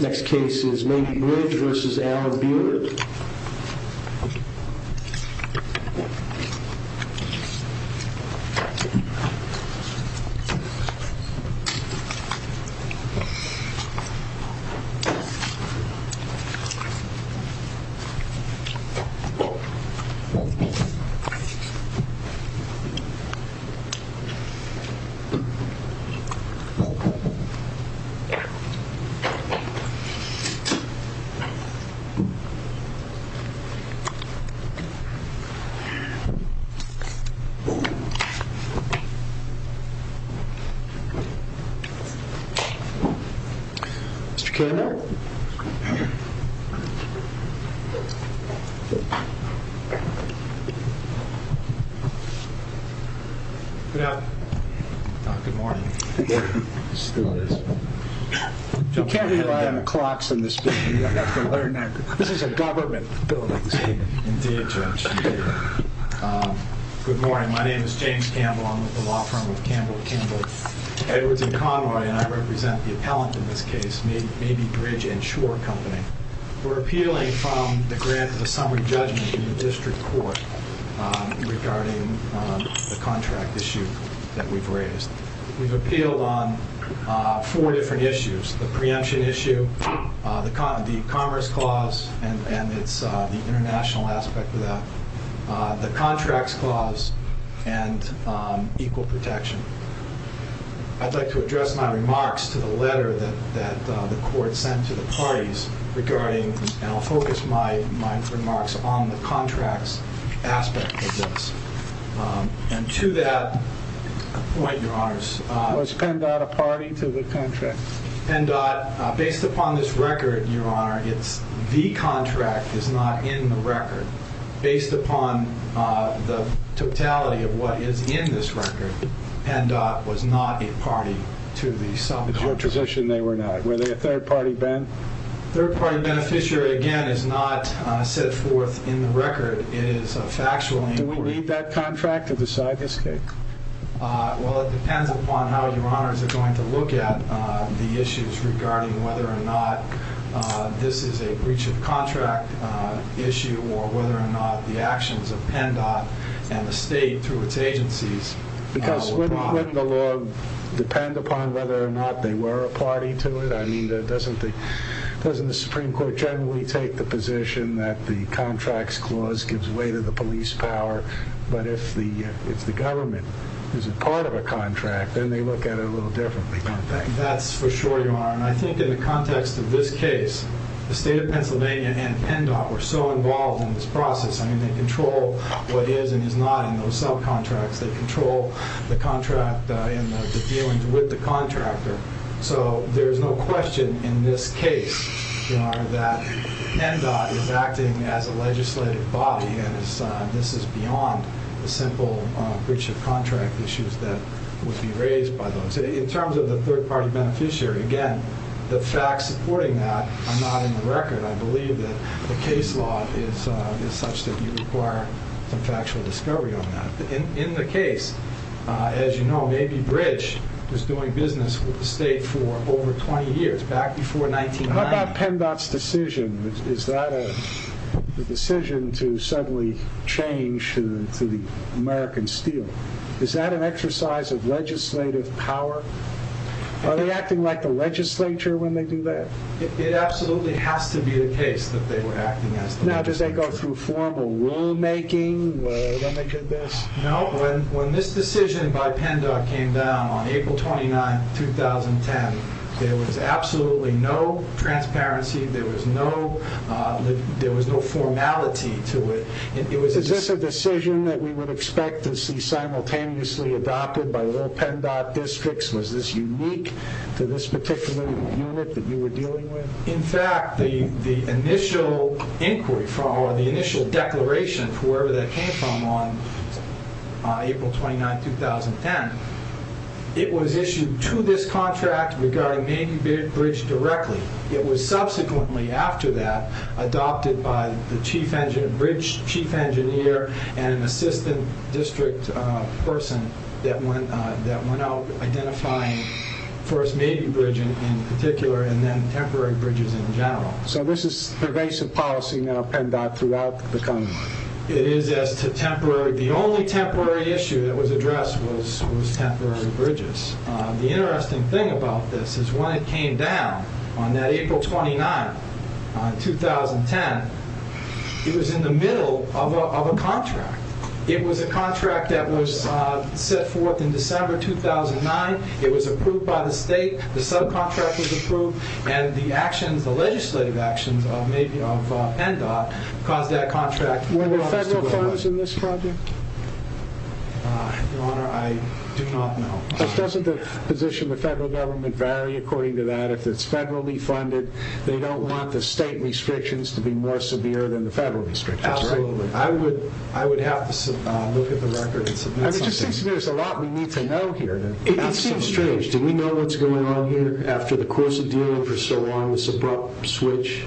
Next case is Mabey Bridge v. Alan Biehler Next case is Mabey Bridge v. Alan Biehler You can't rely on the clocks in this building. You have to learn that. This is a government building. Indeed, Judge. Indeed. Good morning. My name is James Campbell. I'm with the law firm of Campbell & Kimball. Edwards & Conroy and I represent the appellant in this case, Mabey Bridge & Shore Company. We're appealing from the grant of the summary judgment in the district court regarding the contract issue that we've raised. We've appealed on four different issues. The preemption issue, the commerce clause, and it's the international aspect of that, the contracts clause, and equal protection. I'd like to address my remarks to the letter that the court sent to the parties regarding, and I'll focus my remarks on the contracts aspect of this. And to that point, Your Honors, Was PennDOT a party to the contract? PennDOT, based upon this record, Your Honor, the contract is not in the record. Based upon the totality of what is in this record, PennDOT was not a party to the subcontract. In your position, they were not. Were they a third-party benefit? A third-party beneficiary, again, is not set forth in the record. It is a factual inquiry. Do we need that contract to decide this case? Well, it depends upon how Your Honors are going to look at the issues regarding whether or not this is a breach of contract issue or whether or not the actions of PennDOT and the state through its agencies Because wouldn't the law depend upon whether or not they were a party to it? I mean, doesn't the Supreme Court generally take the position that the contracts clause gives way to the police power, but if the government is a part of a contract, then they look at it a little differently, don't they? That's for sure, Your Honor. And I think in the context of this case, the state of Pennsylvania and PennDOT were so involved in this process. I mean, they control what is and is not in those subcontracts. They control the contract and the dealings with the contractor. So there is no question in this case, Your Honor, that PennDOT is acting as a legislative body and this is beyond the simple breach of contract issues that would be raised by those. In terms of the third-party beneficiary, again, the facts supporting that are not in the record. I believe that the case law is such that you require some factual discovery on that. In the case, as you know, maybe Bridge was doing business with the state for over 20 years, back before 1990. How about PennDOT's decision? Is that a decision to suddenly change to the American Steel? Is that an exercise of legislative power? Are they acting like the legislature when they do that? It absolutely has to be the case that they were acting as the legislature. Now, does that go through formal rulemaking when they did this? No. When this decision by PennDOT came down on April 29, 2010, there was absolutely no transparency. There was no formality to it. Is this a decision that we would expect to see simultaneously adopted by all PennDOT districts? Was this unique to this particular unit that you were dealing with? In fact, the initial inquiry, or the initial declaration for wherever that came from on April 29, 2010, it was issued to this contract regarding maybe Bridge directly. It was subsequently, after that, adopted by the bridge chief engineer and an assistant district person that went out identifying first maybe Bridge in particular and then temporary Bridges in general. So this is pervasive policy now, PennDOT, throughout the country? It is as to temporary. The only temporary issue that was addressed was temporary Bridges. The interesting thing about this is when it came down, on that April 29, 2010, it was in the middle of a contract. It was a contract that was set forth in December 2009. It was approved by the state. The subcontract was approved, and the legislative actions of PennDOT caused that contract. Were there federal funds in this project? Your Honor, I do not know. Doesn't the position of the federal government vary according to that? If it's federally funded, they don't want the state restrictions to be more severe than the federal restrictions, right? Absolutely. I would have to look at the records. There's a lot we need to know here. It seems strange. Do we know what's going on here after the course of dealing for so long with this abrupt switch?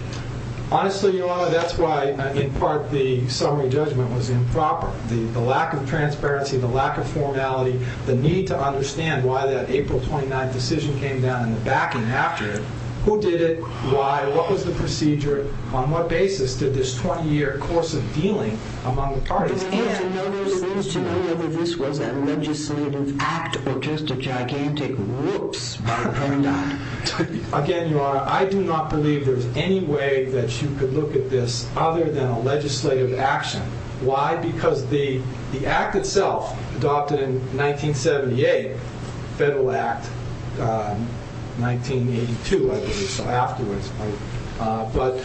Honestly, Your Honor, that's why, in part, the summary judgment was improper. The lack of transparency, the lack of formality, the need to understand why that April 29 decision came down in the back and after it, who did it, why, what was the procedure, on what basis did this 20-year course of dealing among the parties? And to know whether this was a legislative act or just a gigantic whoops by PennDOT. Again, Your Honor, I do not believe there's any way that you could look at this other than a legislative action. Why? Why? Because the act itself, adopted in 1978, Federal Act 1982, I believe, so afterwards, but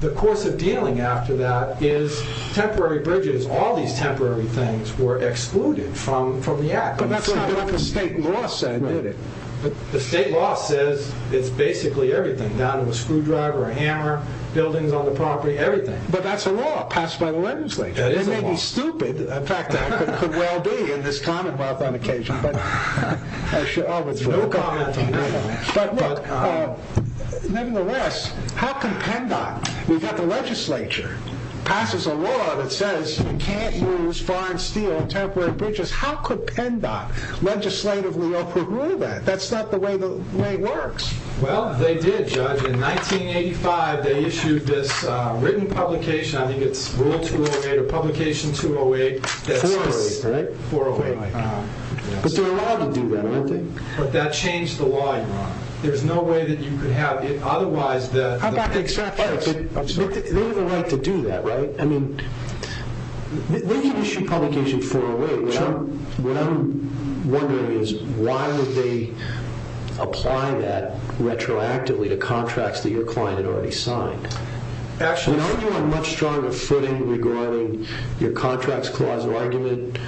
the course of dealing after that is temporary bridges. All these temporary things were excluded from the act. But that's not what the state law said, did it? The state law says it's basically everything, down to a screwdriver, a hammer, buildings on the property, everything. But that's a law passed by the legislature. It may be stupid. In fact, it could well be in this commonwealth on occasion. But nevertheless, how can PennDOT, we've got the legislature, passes a law that says you can't use foreign steel on temporary bridges. How could PennDOT legislatively overrule that? That's not the way the way it works. Well, they did, Judge. In 1985, they issued this written publication. I think it's Rule 208 or Publication 208. 408, right? 408. But they're allowed to do that, aren't they? But that changed the law, Your Honor. There's no way that you could have it. Otherwise, the... I'm sorry. They have a right to do that, right? I mean, they can issue publication 408. What I'm wondering is, why would they apply that retroactively to contracts that your client had already signed? Actually... You know, you are much stronger footing regarding your Contracts Clause argument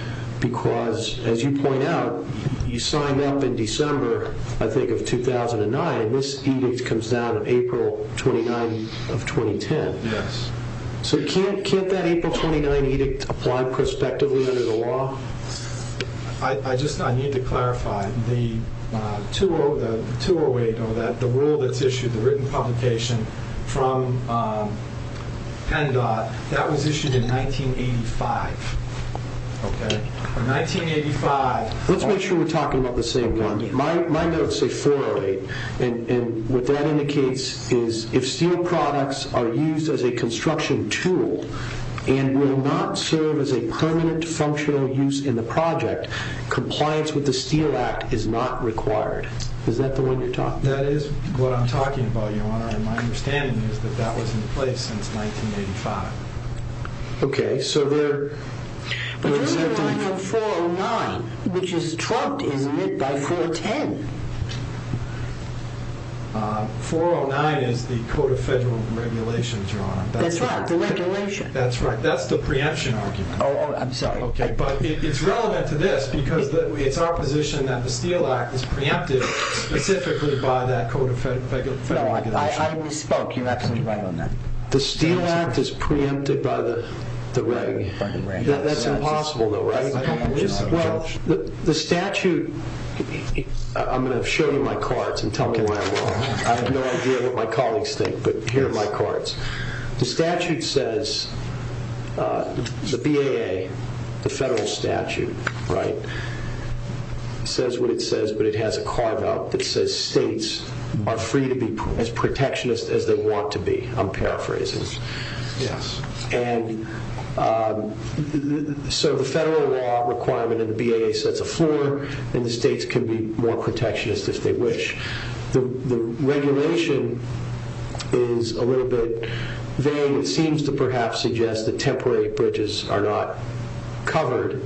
because, as you point out, you signed up in December, I think, of 2009. This edict comes down on April 29 of 2010. Yes. So can't that April 29 edict apply prospectively under the law? I just need to clarify. The 208 or the rule that's issued, the written publication from PennDOT, that was issued in 1985. Okay. In 1985... Let's make sure we're talking about the same one. My notes say 408. And what that indicates is if steel products are used as a construction tool and will not serve as a permanent functional use in the project, compliance with the Steel Act is not required. Is that the one you're talking about? That is what I'm talking about, Your Honor, and my understanding is that that was in place since 1985. Okay, so there... But you're talking about 409, which is trumped, isn't it, by 410? 409 is the Code of Federal Regulations, Your Honor. That's right, the regulation. That's right, that's the preemption argument. Oh, I'm sorry. Okay, but it's relevant to this because it's our position that the Steel Act is preempted specifically by that Code of Federal Regulations. No, I misspoke. You're absolutely right on that. The Steel Act is preempted by the regulation. That's impossible, though, right? Well, the statute... I'm going to show you my cards and tell you why I'm wrong. I have no idea what my colleagues think, but here are my cards. The statute says, the BAA, the federal statute, right, says what it says, but it has a carve-out that says states are free to be as protectionist as they want to be. I'm paraphrasing. And so the federal law requirement in the BAA sets a floor, and the states can be more protectionist if they wish. The regulation is a little bit vague. It seems to perhaps suggest that temporary bridges are not covered.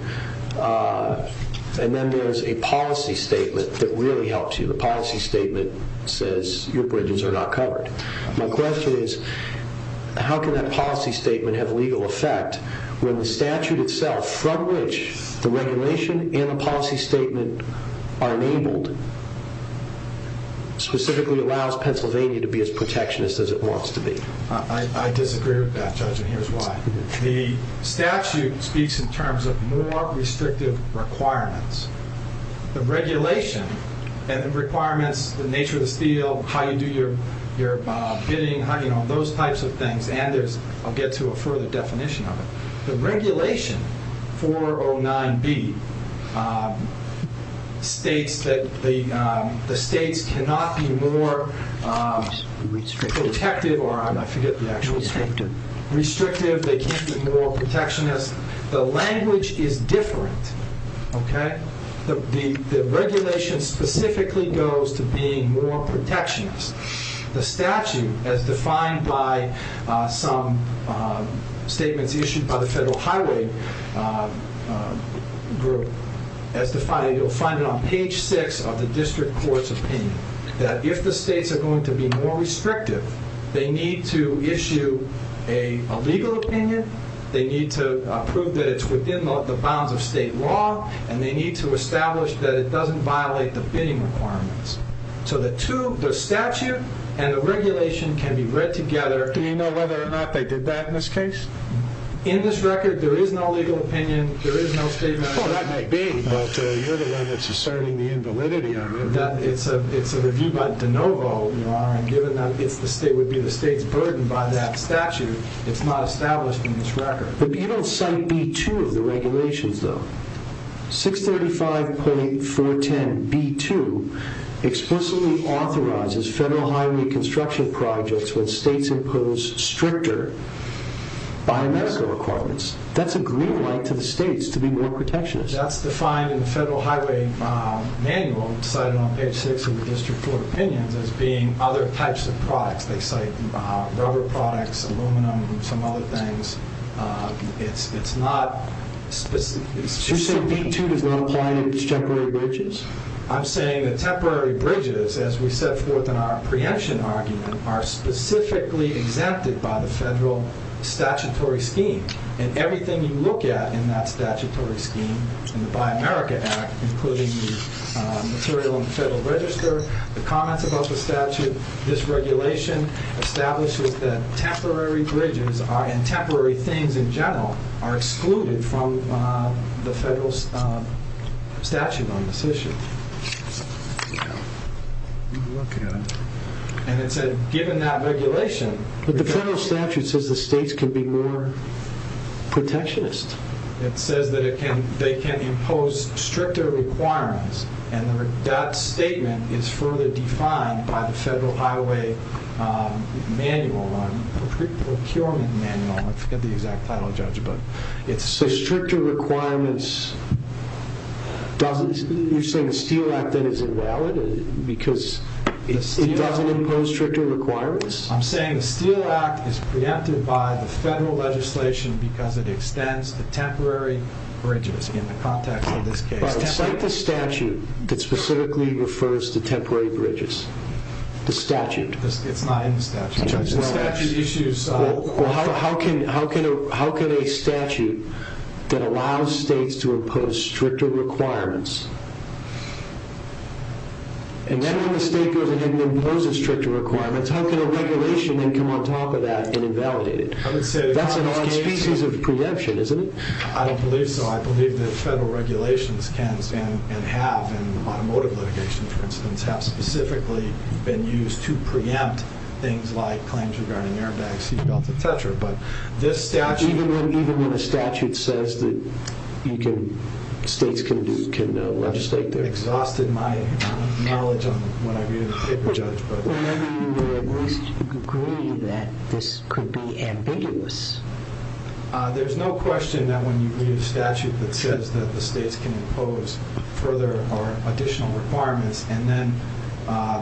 And then there's a policy statement that really helps you. The policy statement says your bridges are not covered. My question is, how can that policy statement have legal effect when the statute itself, from which the regulation and the policy statement are enabled, specifically allows Pennsylvania to be as protectionist as it wants to be? I disagree with that judgment. Here's why. The statute speaks in terms of more restrictive requirements. The regulation and the requirements, the nature of the steel, how you do your bidding, those types of things, and I'll get to a further definition of it. The regulation 409B states that the states cannot be more protective or I forget the actual term. Restrictive, they can't be more protectionist. The language is different. The regulation specifically goes to being more protectionist. The statute, as defined by some statements issued by the Federal Highway Group, as defined, you'll find it on page six of the district court's opinion, that if the states are going to be more restrictive, they need to issue a legal opinion, they need to prove that it's within the bounds of state law, and they need to establish that it doesn't violate the bidding requirements. So the statute and the regulation can be read together. Do you know whether or not they did that in this case? In this record, there is no legal opinion, there is no statement. That may be, but you're the one that's asserting the invalidity on it. It's a review by De Novo, Your Honor, and given that it would be the state's burden by that statute, it's not established in this record. But you don't cite B2 of the regulations though. 635.410B2 explicitly authorizes federal highway construction projects when states impose stricter biomedical requirements. That's a green light to the states to be more protectionist. That's defined in the Federal Highway Manual, cited on page 6 of the District Court Opinions, as being other types of products. They cite rubber products, aluminum, and some other things. It's not specific. So you're saying B2 does not apply to these temporary bridges? I'm saying the temporary bridges, as we set forth in our preemption argument, are specifically exempted by the federal statutory scheme. And everything you look at in that statutory scheme, in the Buy America Act, including the material in the Federal Register, the comments about the statute, this regulation establishes that temporary bridges and temporary things in general are excluded from the federal statute on this issue. And it said, given that regulation... protectionist. It says that they can impose stricter requirements, and that statement is further defined by the Federal Highway Manual, or Procurement Manual. I forget the exact title, Judge, but... So stricter requirements... You're saying the Steele Act, then, isn't valid? Because it doesn't impose stricter requirements? I'm saying the Steele Act is preempted by the federal legislation because it extends the temporary bridges, in the context of this case. But it's like the statute that specifically refers to temporary bridges. The statute. It's not in the statute, Judge. The statute issues... Well, how can a statute that allows states to impose stricter requirements... And then when the state goes ahead and imposes stricter requirements, how can a regulation then come on top of that and invalidate it? That's an odd species of preemption, isn't it? I don't believe so. I believe that federal regulations can and have, in automotive litigation, for instance, have specifically been used to preempt things like claims regarding airbags, seat belts, etc. But this statute... Even when a statute says that states can legislate their... Exhausted my knowledge on what I read in the paper, Judge. Then you would at least agree that this could be ambiguous. There's no question that when you read a statute that says that the states can impose further or additional requirements and then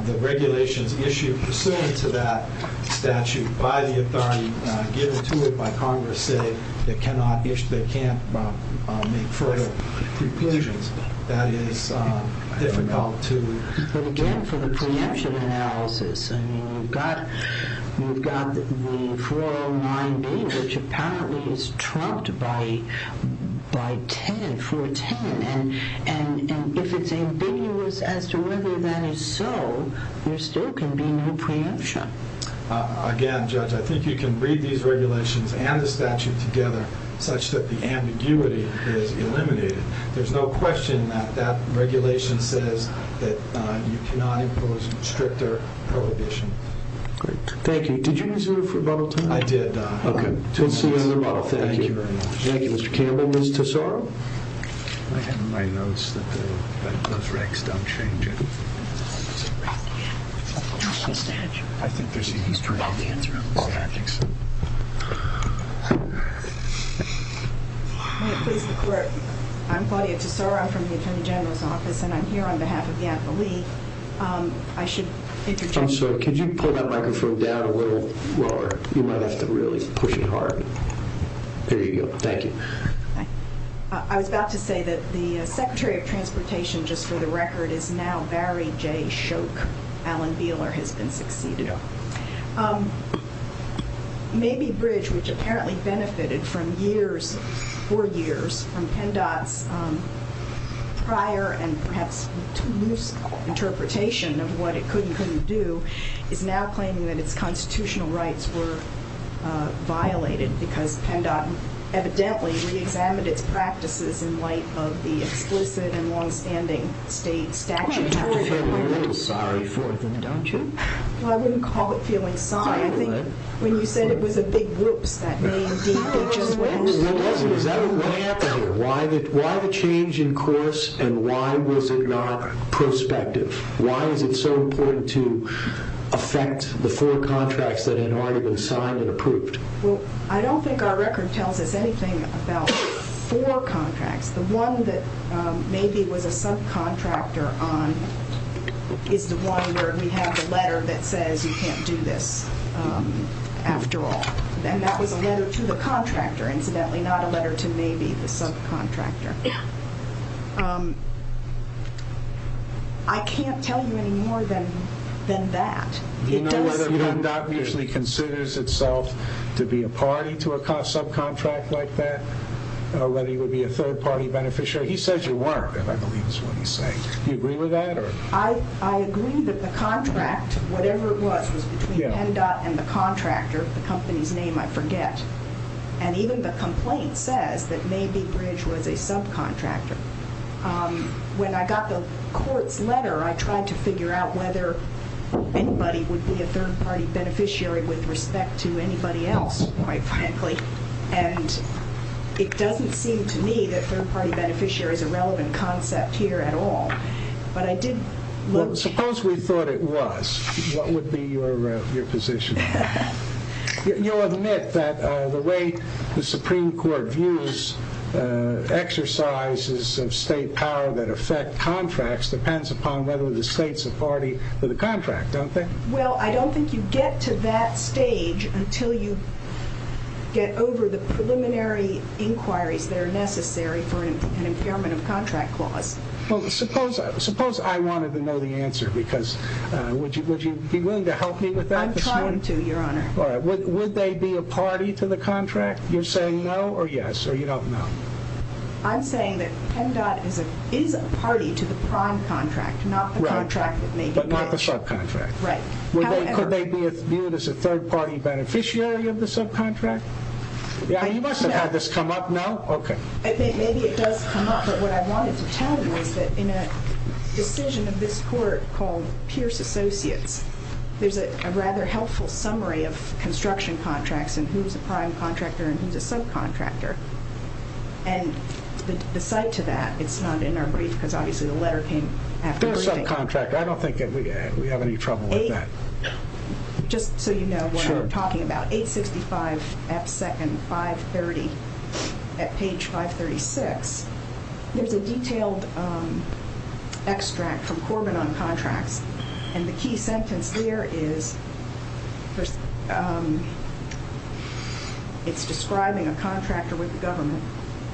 the regulations issued pursuant to that statute by the authority given to it by Congress say they can't make further preclusions, that is difficult to... But again, for the preemption analysis, you've got the 409B, which apparently is trumped by 10, 410. And if it's ambiguous as to whether that is so, there still can be no preemption. Again, Judge, I think you can breed these regulations and the statute together such that the ambiguity is eliminated. There's no question that that regulation says that you cannot impose stricter prohibition. Great. Thank you. Did you use it for rebuttal time? I did. Okay. Thank you very much. Thank you, Mr. Campbell. Ms. Tesoro? I have in my notes that those regs don't change it. I think there's a history. I think so. I'm Claudia Tesoro. I'm from the Attorney General's Office, and I'm here on behalf of the Advolee. I should introduce... I'm sorry. Could you pull that microphone down a little lower? You might have to really push it hard. There you go. Thank you. I was about to say that the Secretary of Transportation, just for the record, is now Barry J. Shoke. Alan Beeler has been succeeded on. Mabee Bridge, which apparently benefited for years from PennDOT's prior and perhaps loose interpretation of what it could and couldn't do, is now claiming that its constitutional rights were violated because PennDOT evidently reexamined its practices in light of the explicit and long-standing state statute. You have to feel a little sorry for them, don't you? Well, I wouldn't call it feeling sorry. I think when you said it was a big whoops, that may indeed be just what it is. What happened here? Why the change in course, and why was it not prospective? Why is it so important to affect the four contracts that had already been signed and approved? Well, I don't think our record tells us anything about four contracts. The one that Mabee was a subcontractor on is the one where we have the letter that says you can't do this after all. And that was a letter to the contractor, incidentally, not a letter to Mabee, the subcontractor. I can't tell you any more than that. Do you know whether PennDOT usually considers itself to be a party to a subcontract like that? Whether you would be a third-party beneficiary? He says you weren't, and I believe that's what he's saying. Do you agree with that? I agree that the contract, whatever it was, was between PennDOT and the contractor, the company's name I forget. And even the complaint says that Mabee Bridge was a subcontractor. When I got the court's letter, I tried to figure out whether anybody would be a third-party beneficiary with respect to anybody else, quite frankly. And it doesn't seem to me that third-party beneficiary is a relevant concept here at all. But I did look... Suppose we thought it was. What would be your position? You'll admit that the way the Supreme Court views exercises of state power that affect contracts depends upon whether the state's a party to the contract, don't they? Well, I don't think you get to that stage until you get over the preliminary inquiries that are necessary for an impairment of contract clause. Well, suppose I wanted to know the answer, because would you be willing to help me with that? I'm trying to, Your Honor. Would they be a party to the contract? You're saying no or yes, or you don't know? I'm saying that PennDOT is a party to the prime contract, not the contract that Mabee Bridge... Right, but not the subcontract. Right. Could they be viewed as a third-party beneficiary of the subcontract? You must have had this come up. No? Okay. Maybe it does come up, but what I wanted to tell you is that in a decision of this court called Pierce Associates, there's a rather helpful summary of construction contracts and who's a prime contractor and who's a subcontractor. And the cite to that, it's not in our brief, because obviously the letter came after briefing. They're a subcontractor. I don't think we have any trouble with that. Just so you know what I'm talking about, 865 F. 2nd, 530, at page 536, there's a detailed extract from Corbin on contracts, and the key sentence there is, it's describing a contractor with the government.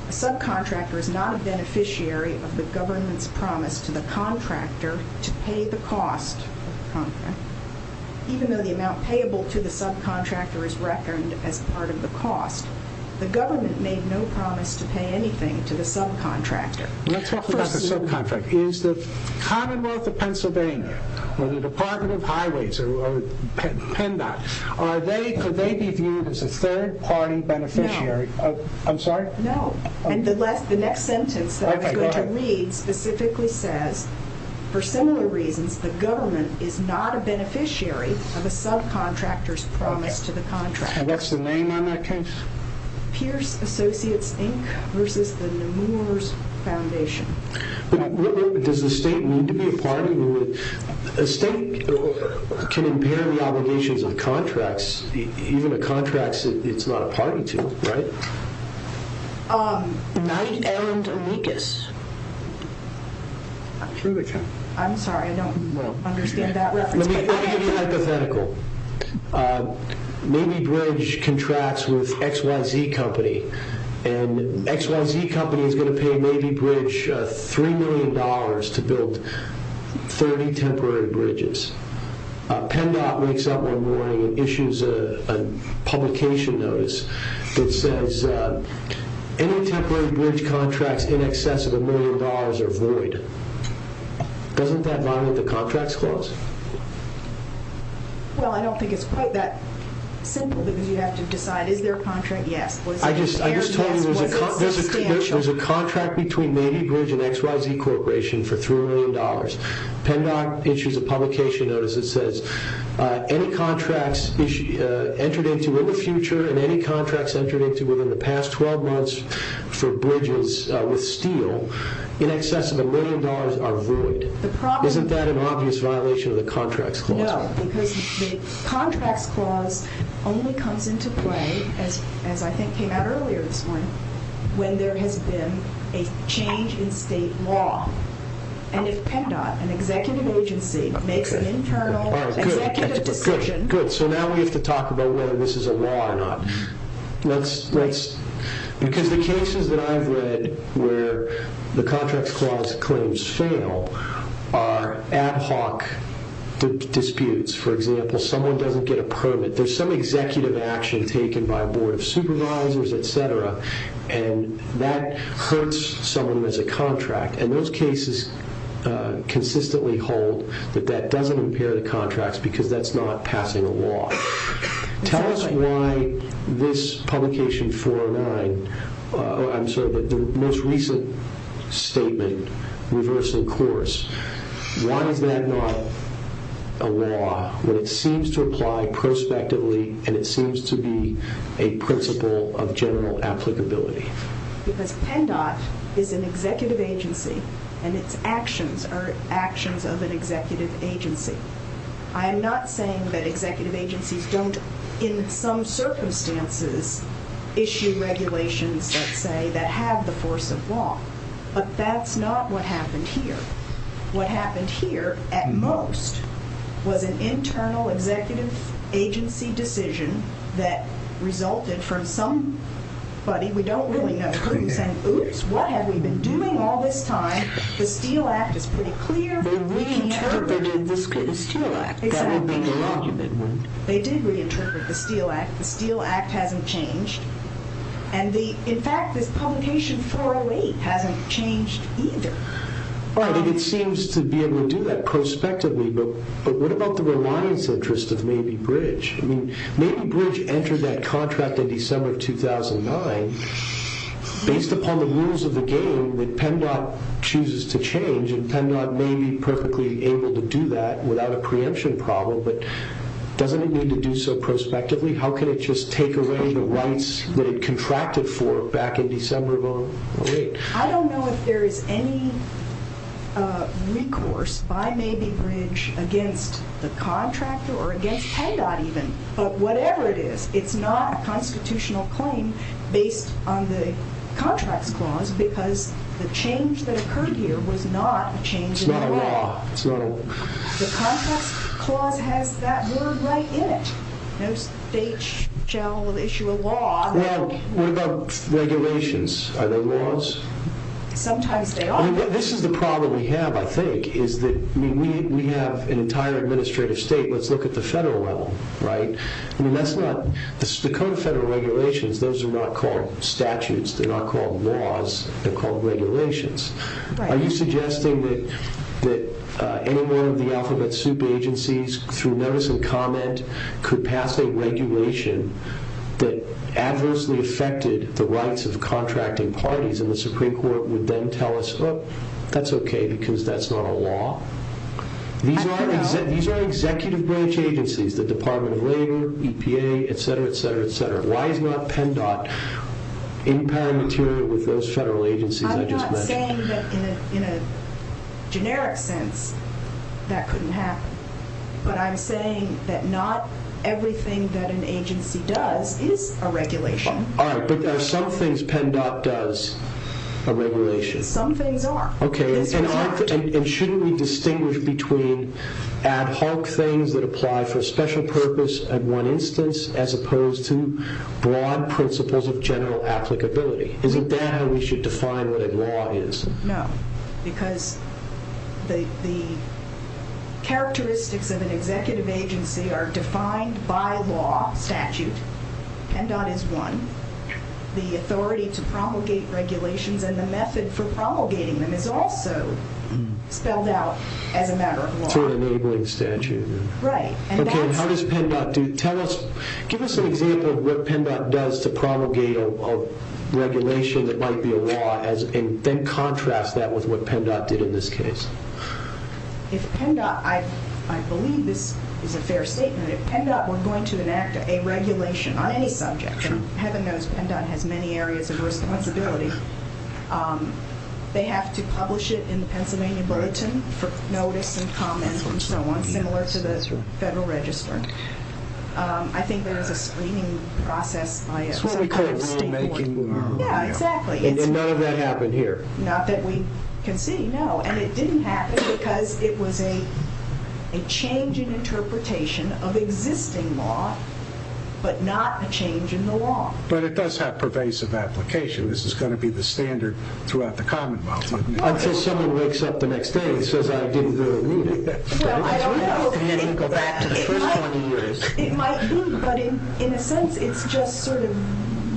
A subcontractor is not a beneficiary of the government's promise to the contractor to pay the cost of the contract. Even though the amount payable to the subcontractor is reckoned as part of the cost, the government made no promise to pay anything to the subcontractor. Let's talk about the subcontractor. Is the Commonwealth of Pennsylvania or the Department of Highways or PennDOT, could they be viewed as a third-party beneficiary? No. I'm sorry? No. And the next sentence that I was going to read specifically says, for similar reasons, the government is not a beneficiary of a subcontractor's promise to the contractor. And what's the name on that case? Pierce Associates, Inc. versus the Nemours Foundation. Does the state need to be a party? A state can impair the obligations of contracts, even a contract it's not a party to, right? Knight and Amicus. I'm sorry, I don't understand that reference. Let me be hypothetical. Mabee Bridge contracts with XYZ Company, and XYZ Company is going to pay Mabee Bridge $3 million to build 30 temporary bridges. PennDOT wakes up one morning and issues a publication notice that says any temporary bridge contracts in excess of a million dollars are void. Doesn't that violate the contracts clause? Well, I don't think it's quite that simple because you have to decide, is there a contract? Yes. I just told you there's a contract between Mabee Bridge and XYZ Corporation for $3 million. PennDOT issues a publication notice that says any contracts entered into in the future and any contracts entered into within the past 12 months for bridges with steel in excess of a million dollars are void. Isn't that an obvious violation of the contracts clause? No, because the contracts clause only comes into play, as I think came out earlier this morning, when there has been a change in state law. And if PennDOT, an executive agency, makes an internal executive decision... Because the cases that I've read where the contracts clause claims fail are ad hoc disputes. For example, someone doesn't get a permit. There's some executive action taken by a board of supervisors, etc., and that hurts someone who has a contract. And those cases consistently hold that that doesn't impair the contracts because that's not passing a law. Tell us why this publication 409, I'm sorry, the most recent statement, Reversal Course, why is that not a law when it seems to apply prospectively and it seems to be a principle of general applicability? Because PennDOT is an executive agency and its actions are actions of an executive agency. I am not saying that executive agencies don't, in some circumstances, issue regulations, let's say, that have the force of law. But that's not what happened here. What happened here, at most, was an internal executive agency decision that resulted from somebody, we don't really know who, saying, oops, what have we been doing all this time? The Steele Act is pretty clear. They reinterpreted the Steele Act. That would be the argument, wouldn't it? They did reinterpret the Steele Act. The Steele Act hasn't changed. And, in fact, this publication 408 hasn't changed either. Right, and it seems to be able to do that prospectively, but what about the reliance interest of Maybe Bridge? I mean, Maybe Bridge entered that contract in December of 2009. Based upon the rules of the game that PennDOT chooses to change and PennDOT may be perfectly able to do that without a preemption problem, but doesn't it need to do so prospectively? How can it just take away the rights that it contracted for back in December of 2008? I don't know if there is any recourse by Maybe Bridge against the contractor or against PennDOT even, but whatever it is, it's not a constitutional claim based on the contracts clause because the change that occurred here was not a change in the law. It's not a law. The contracts clause has that word right in it. No state shall issue a law... Well, what about regulations? Are they laws? Sometimes they are. This is the problem we have, I think, is that we have an entire administrative state. Let's look at the federal level, right? I mean, that's not... The code of federal regulations, those are not called statutes. They're not called laws. They're called regulations. Are you suggesting that any one of the alphabet soup agencies through notice and comment could pass a regulation that adversely affected the rights of contracting parties and the Supreme Court would then tell us, oh, that's okay because that's not a law? I don't know. These are executive branch agencies, the Department of Labor, EPA, et cetera, et cetera, et cetera. Why is not PennDOT empowering material with those federal agencies I just mentioned? I'm not saying that in a generic sense that couldn't happen, but I'm saying that not everything that an agency does is a regulation. All right, but there are some things PennDOT does are regulations. Some things are. Okay, and shouldn't we distinguish between ad hoc things that apply for a special purpose at one instance as opposed to broad principles of general applicability? Isn't that how we should define what a law is? No, because the characteristics of an executive agency are defined by law, statute. PennDOT is one. The authority to promulgate regulations and the method for promulgating them is also spelled out as a matter of law. It's an enabling statute. Right. Okay, and how does PennDOT do? Give us an example of what PennDOT does to promulgate a regulation that might be a law and then contrast that with what PennDOT did in this case. If PennDOT, I believe this is a fair statement, if PennDOT were going to enact a regulation on any subject, and heaven knows PennDOT has many areas of responsibility, they have to publish it in the Pennsylvania Bulletin for notice and comments and so on, similar to the Federal Register. I think there is a screening process by a state court. Yeah, exactly. And none of that happened here. Not that we can see, no, and it didn't happen because it was a change in interpretation of existing law, but not a change in the law. But it does have pervasive application. This is going to be the standard throughout the Commonwealth. Until someone wakes up the next day and says, I didn't do the reading. Well, I don't know. It might be, but in a sense it's just sort of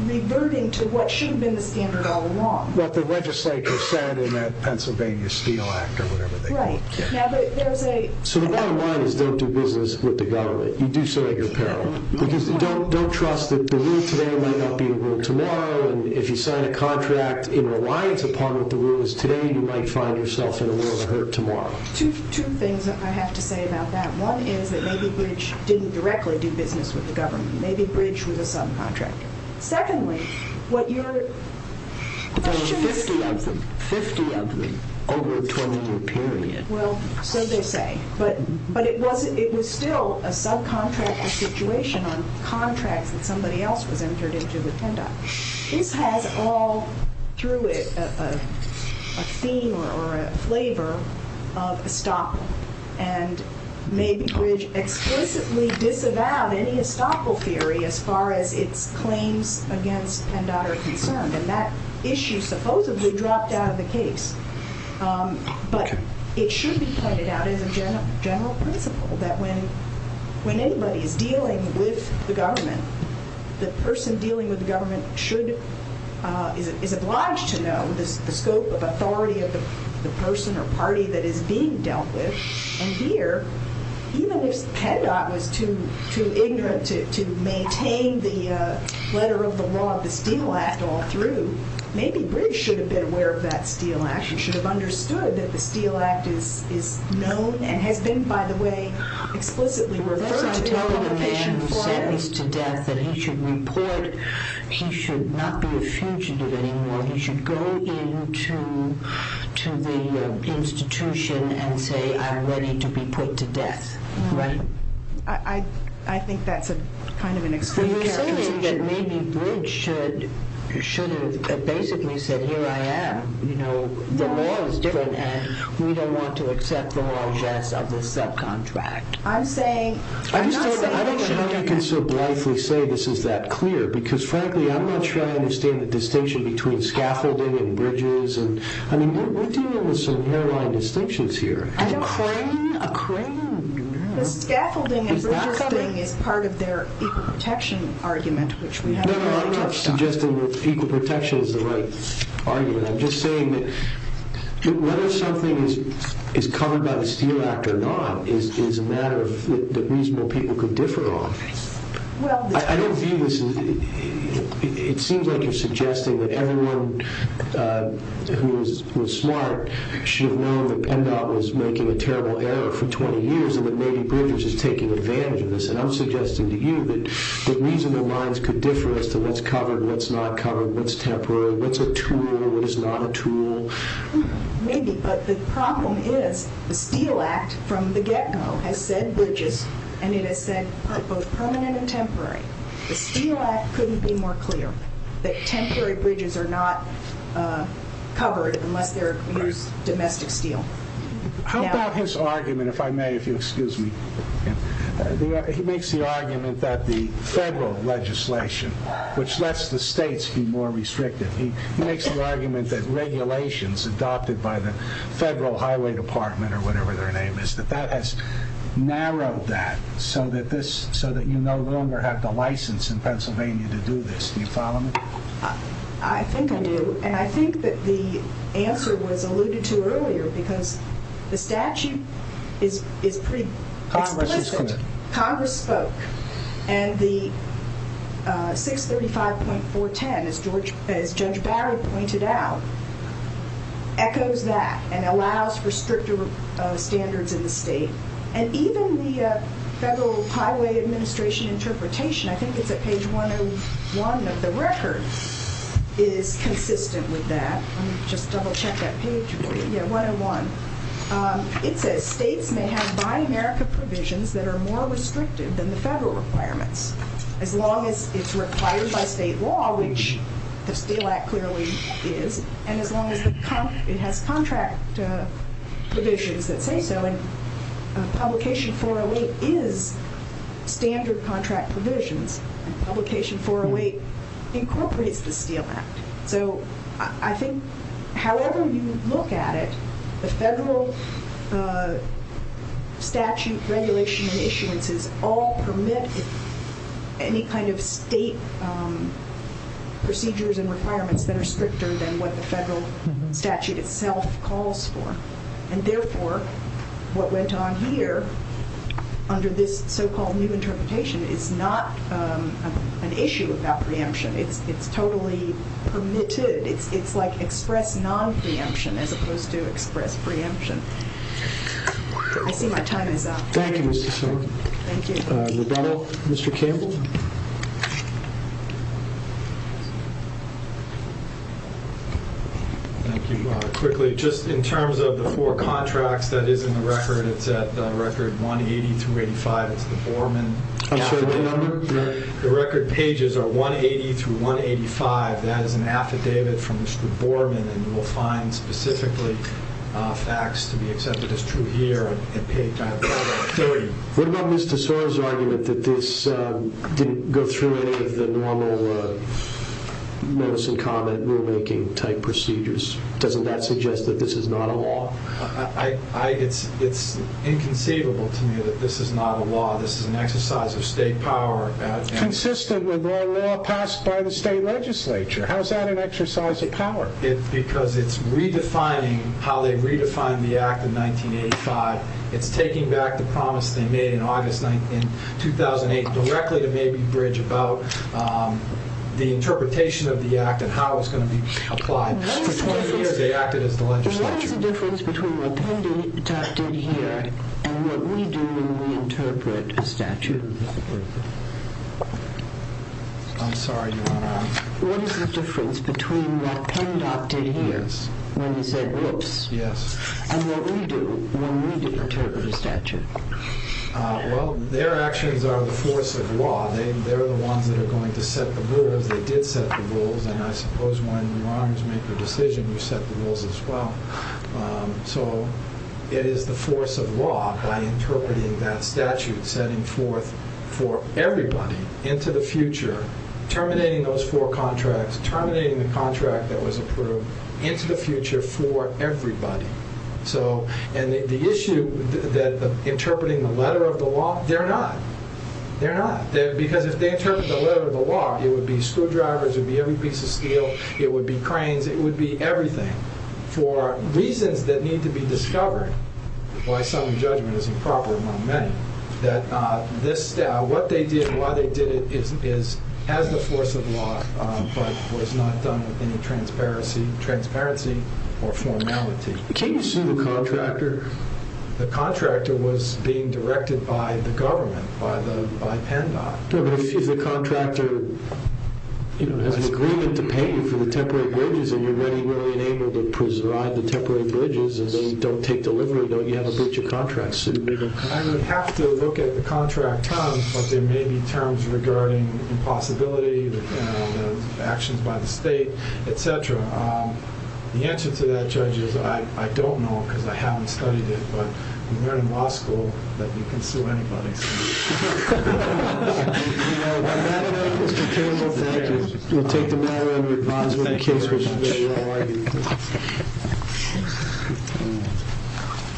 reverting to what should have been the standard all along. What the legislator said in that Pennsylvania Steel Act or whatever they call it. Right. So the bottom line is don't do business with the government. You do so at your peril. Because don't trust that the rule today might not be the rule tomorrow, and if you sign a contract in reliance upon what the rule is today, you might find yourself in a world of hurt tomorrow. Two things I have to say about that. One is that maybe Bridge didn't directly do business with the government. Maybe Bridge was a subcontractor. Secondly, what you're... There were 50 of them. 50 of them over a 20-year period. Well, so they say. But it was still a subcontractor situation on contracts that somebody else was entered into with PennDOT. This has all, through it, a theme or a flavor of estoppel. And maybe Bridge explicitly disavowed any estoppel theory as far as its claims against PennDOT are concerned. And that issue supposedly dropped out of the case. But it should be pointed out as a general principle that when anybody is dealing with the government, the person dealing with the government is obliged to know the scope of authority of the person or party that is being dealt with. And here, even if PennDOT was too ignorant to maintain the letter of the law of the Steele Act all through, maybe Bridge should have been aware of that Steele Act and should have understood that the Steele Act is known and has been, by the way, explicitly referred to as a provision for it. So the man who's sentenced to death, that he should report, he should not be a fugitive anymore. He should go into the institution and say, I'm ready to be put to death, right? I think that's kind of an excluded characterization. Well, you're saying that maybe Bridge should have basically said, here I am, you know, the law is different and we don't want to accept the logesse of this subcontract. I don't know how I can so blithely say this is that clear because, frankly, I'm not sure I understand the distinction between scaffolding and bridges. I mean, what do you mean with some hairline distinctions here? I don't know. A crane? A crane? The scaffolding and bridges thing is part of their equal protection argument, which we haven't really touched on. No, no, I'm not suggesting that equal protection is the right argument. I'm just saying that whether something is covered by the Steele Act or not is a matter that reasonable people could differ on. I don't view this as... It seems like you're suggesting that everyone who is smart should have known that Pendau was making a terrible error for 20 years and that maybe Bridges is taking advantage of this, and I'm suggesting to you that reasonable minds could differ as to what's covered, what's not covered, what's temporary, what's a tool, what is not a tool. Maybe, but the problem is the Steele Act from the get-go has said bridges and it has said both permanent and temporary. The Steele Act couldn't be more clear that temporary bridges are not covered unless they're used domestic steel. How about his argument, if I may, if you'll excuse me. He makes the argument that the federal legislation, which lets the states be more restrictive, he makes the argument that regulations adopted by the Federal Highway Department or whatever their name is, that that has narrowed that so that you no longer have to license in Pennsylvania to do this. Do you follow me? I think I do, and I think that the answer was alluded to earlier because the statute is pretty explicit. Congress is committed. As Judge Barry pointed out, echoes that and allows for stricter standards in the state, and even the Federal Highway Administration interpretation, I think it's at page 101 of the record, is consistent with that. Let me just double-check that page for you. Yeah, 101. It says states may have Buy America provisions that are more restrictive than the federal requirements as long as it's required by state law, which the Steel Act clearly is, and as long as it has contract provisions that say so. Publication 408 is standard contract provisions. Publication 408 incorporates the Steel Act. So I think however you look at it, the federal statute regulation and issuances all permit any kind of state procedures and requirements that are stricter than what the federal statute itself calls for, and therefore what went on here under this so-called new interpretation is not an issue of that preemption. It's totally permitted. It's like express non-preemption as opposed to express preemption. I see my time is up. Thank you, Mr. Sorensen. Thank you. Roberto? Mr. Campbell? Thank you. Quickly, just in terms of the four contracts that is in the record, it's at record 180 through 85. It's the Borman affidavit number. The record pages are 180 through 185. That is an affidavit from Mr. Borman, and you will find specifically facts to be accepted as true here at page 130. What about Mr. Sorensen's argument that this didn't go through any of the normal notice and comment rulemaking type procedures? Doesn't that suggest that this is not a law? It's inconceivable to me that this is not a law. This is an exercise of state power. Consistent with our law passed by the state legislature. How is that an exercise of power? Because it's redefining how they redefined the act in 1985. It's taking back the promise they made in August 2008 directly to Mabry Bridge about the interpretation of the act and how it's going to be applied. For 20 years they acted as the legislature. What is the difference between what Penn did here and what we do when we interpret a statute? I'm sorry, Your Honor. What is the difference between what Penn did here when he said whoops and what we do when we interpret a statute? Well, their actions are the force of law. They're the ones that are going to set the rules. They did set the rules, and I suppose when your honors make a decision, you set the rules as well. So it is the force of law by interpreting that statute, setting forth for everybody into the future, terminating those four contracts, terminating the contract that was approved into the future for everybody. And the issue that interpreting the letter of the law, they're not. They're not. Because if they interpret the letter of the law, it would be screwdrivers, it would be every piece of steel, it would be cranes, it would be everything. For reasons that need to be discovered, why some judgment is improper among many, that what they did and why they did it is as the force of law but was not done with any transparency or formality. Can you assume the contractor? The contractor was being directed by the government, by Penn Dock. But if the contractor has an agreement to pay you for the temporary bridges and you're really unable to preserve the temporary bridges and they don't take delivery, don't you have a breach of contract? I would have to look at the contract terms, but there may be terms regarding impossibility, actions by the state, et cetera. The answer to that, Judge, is I don't know because I haven't studied it, but I learned in law school that you can sue anybody. Thank you. We'll take the matter under advisement.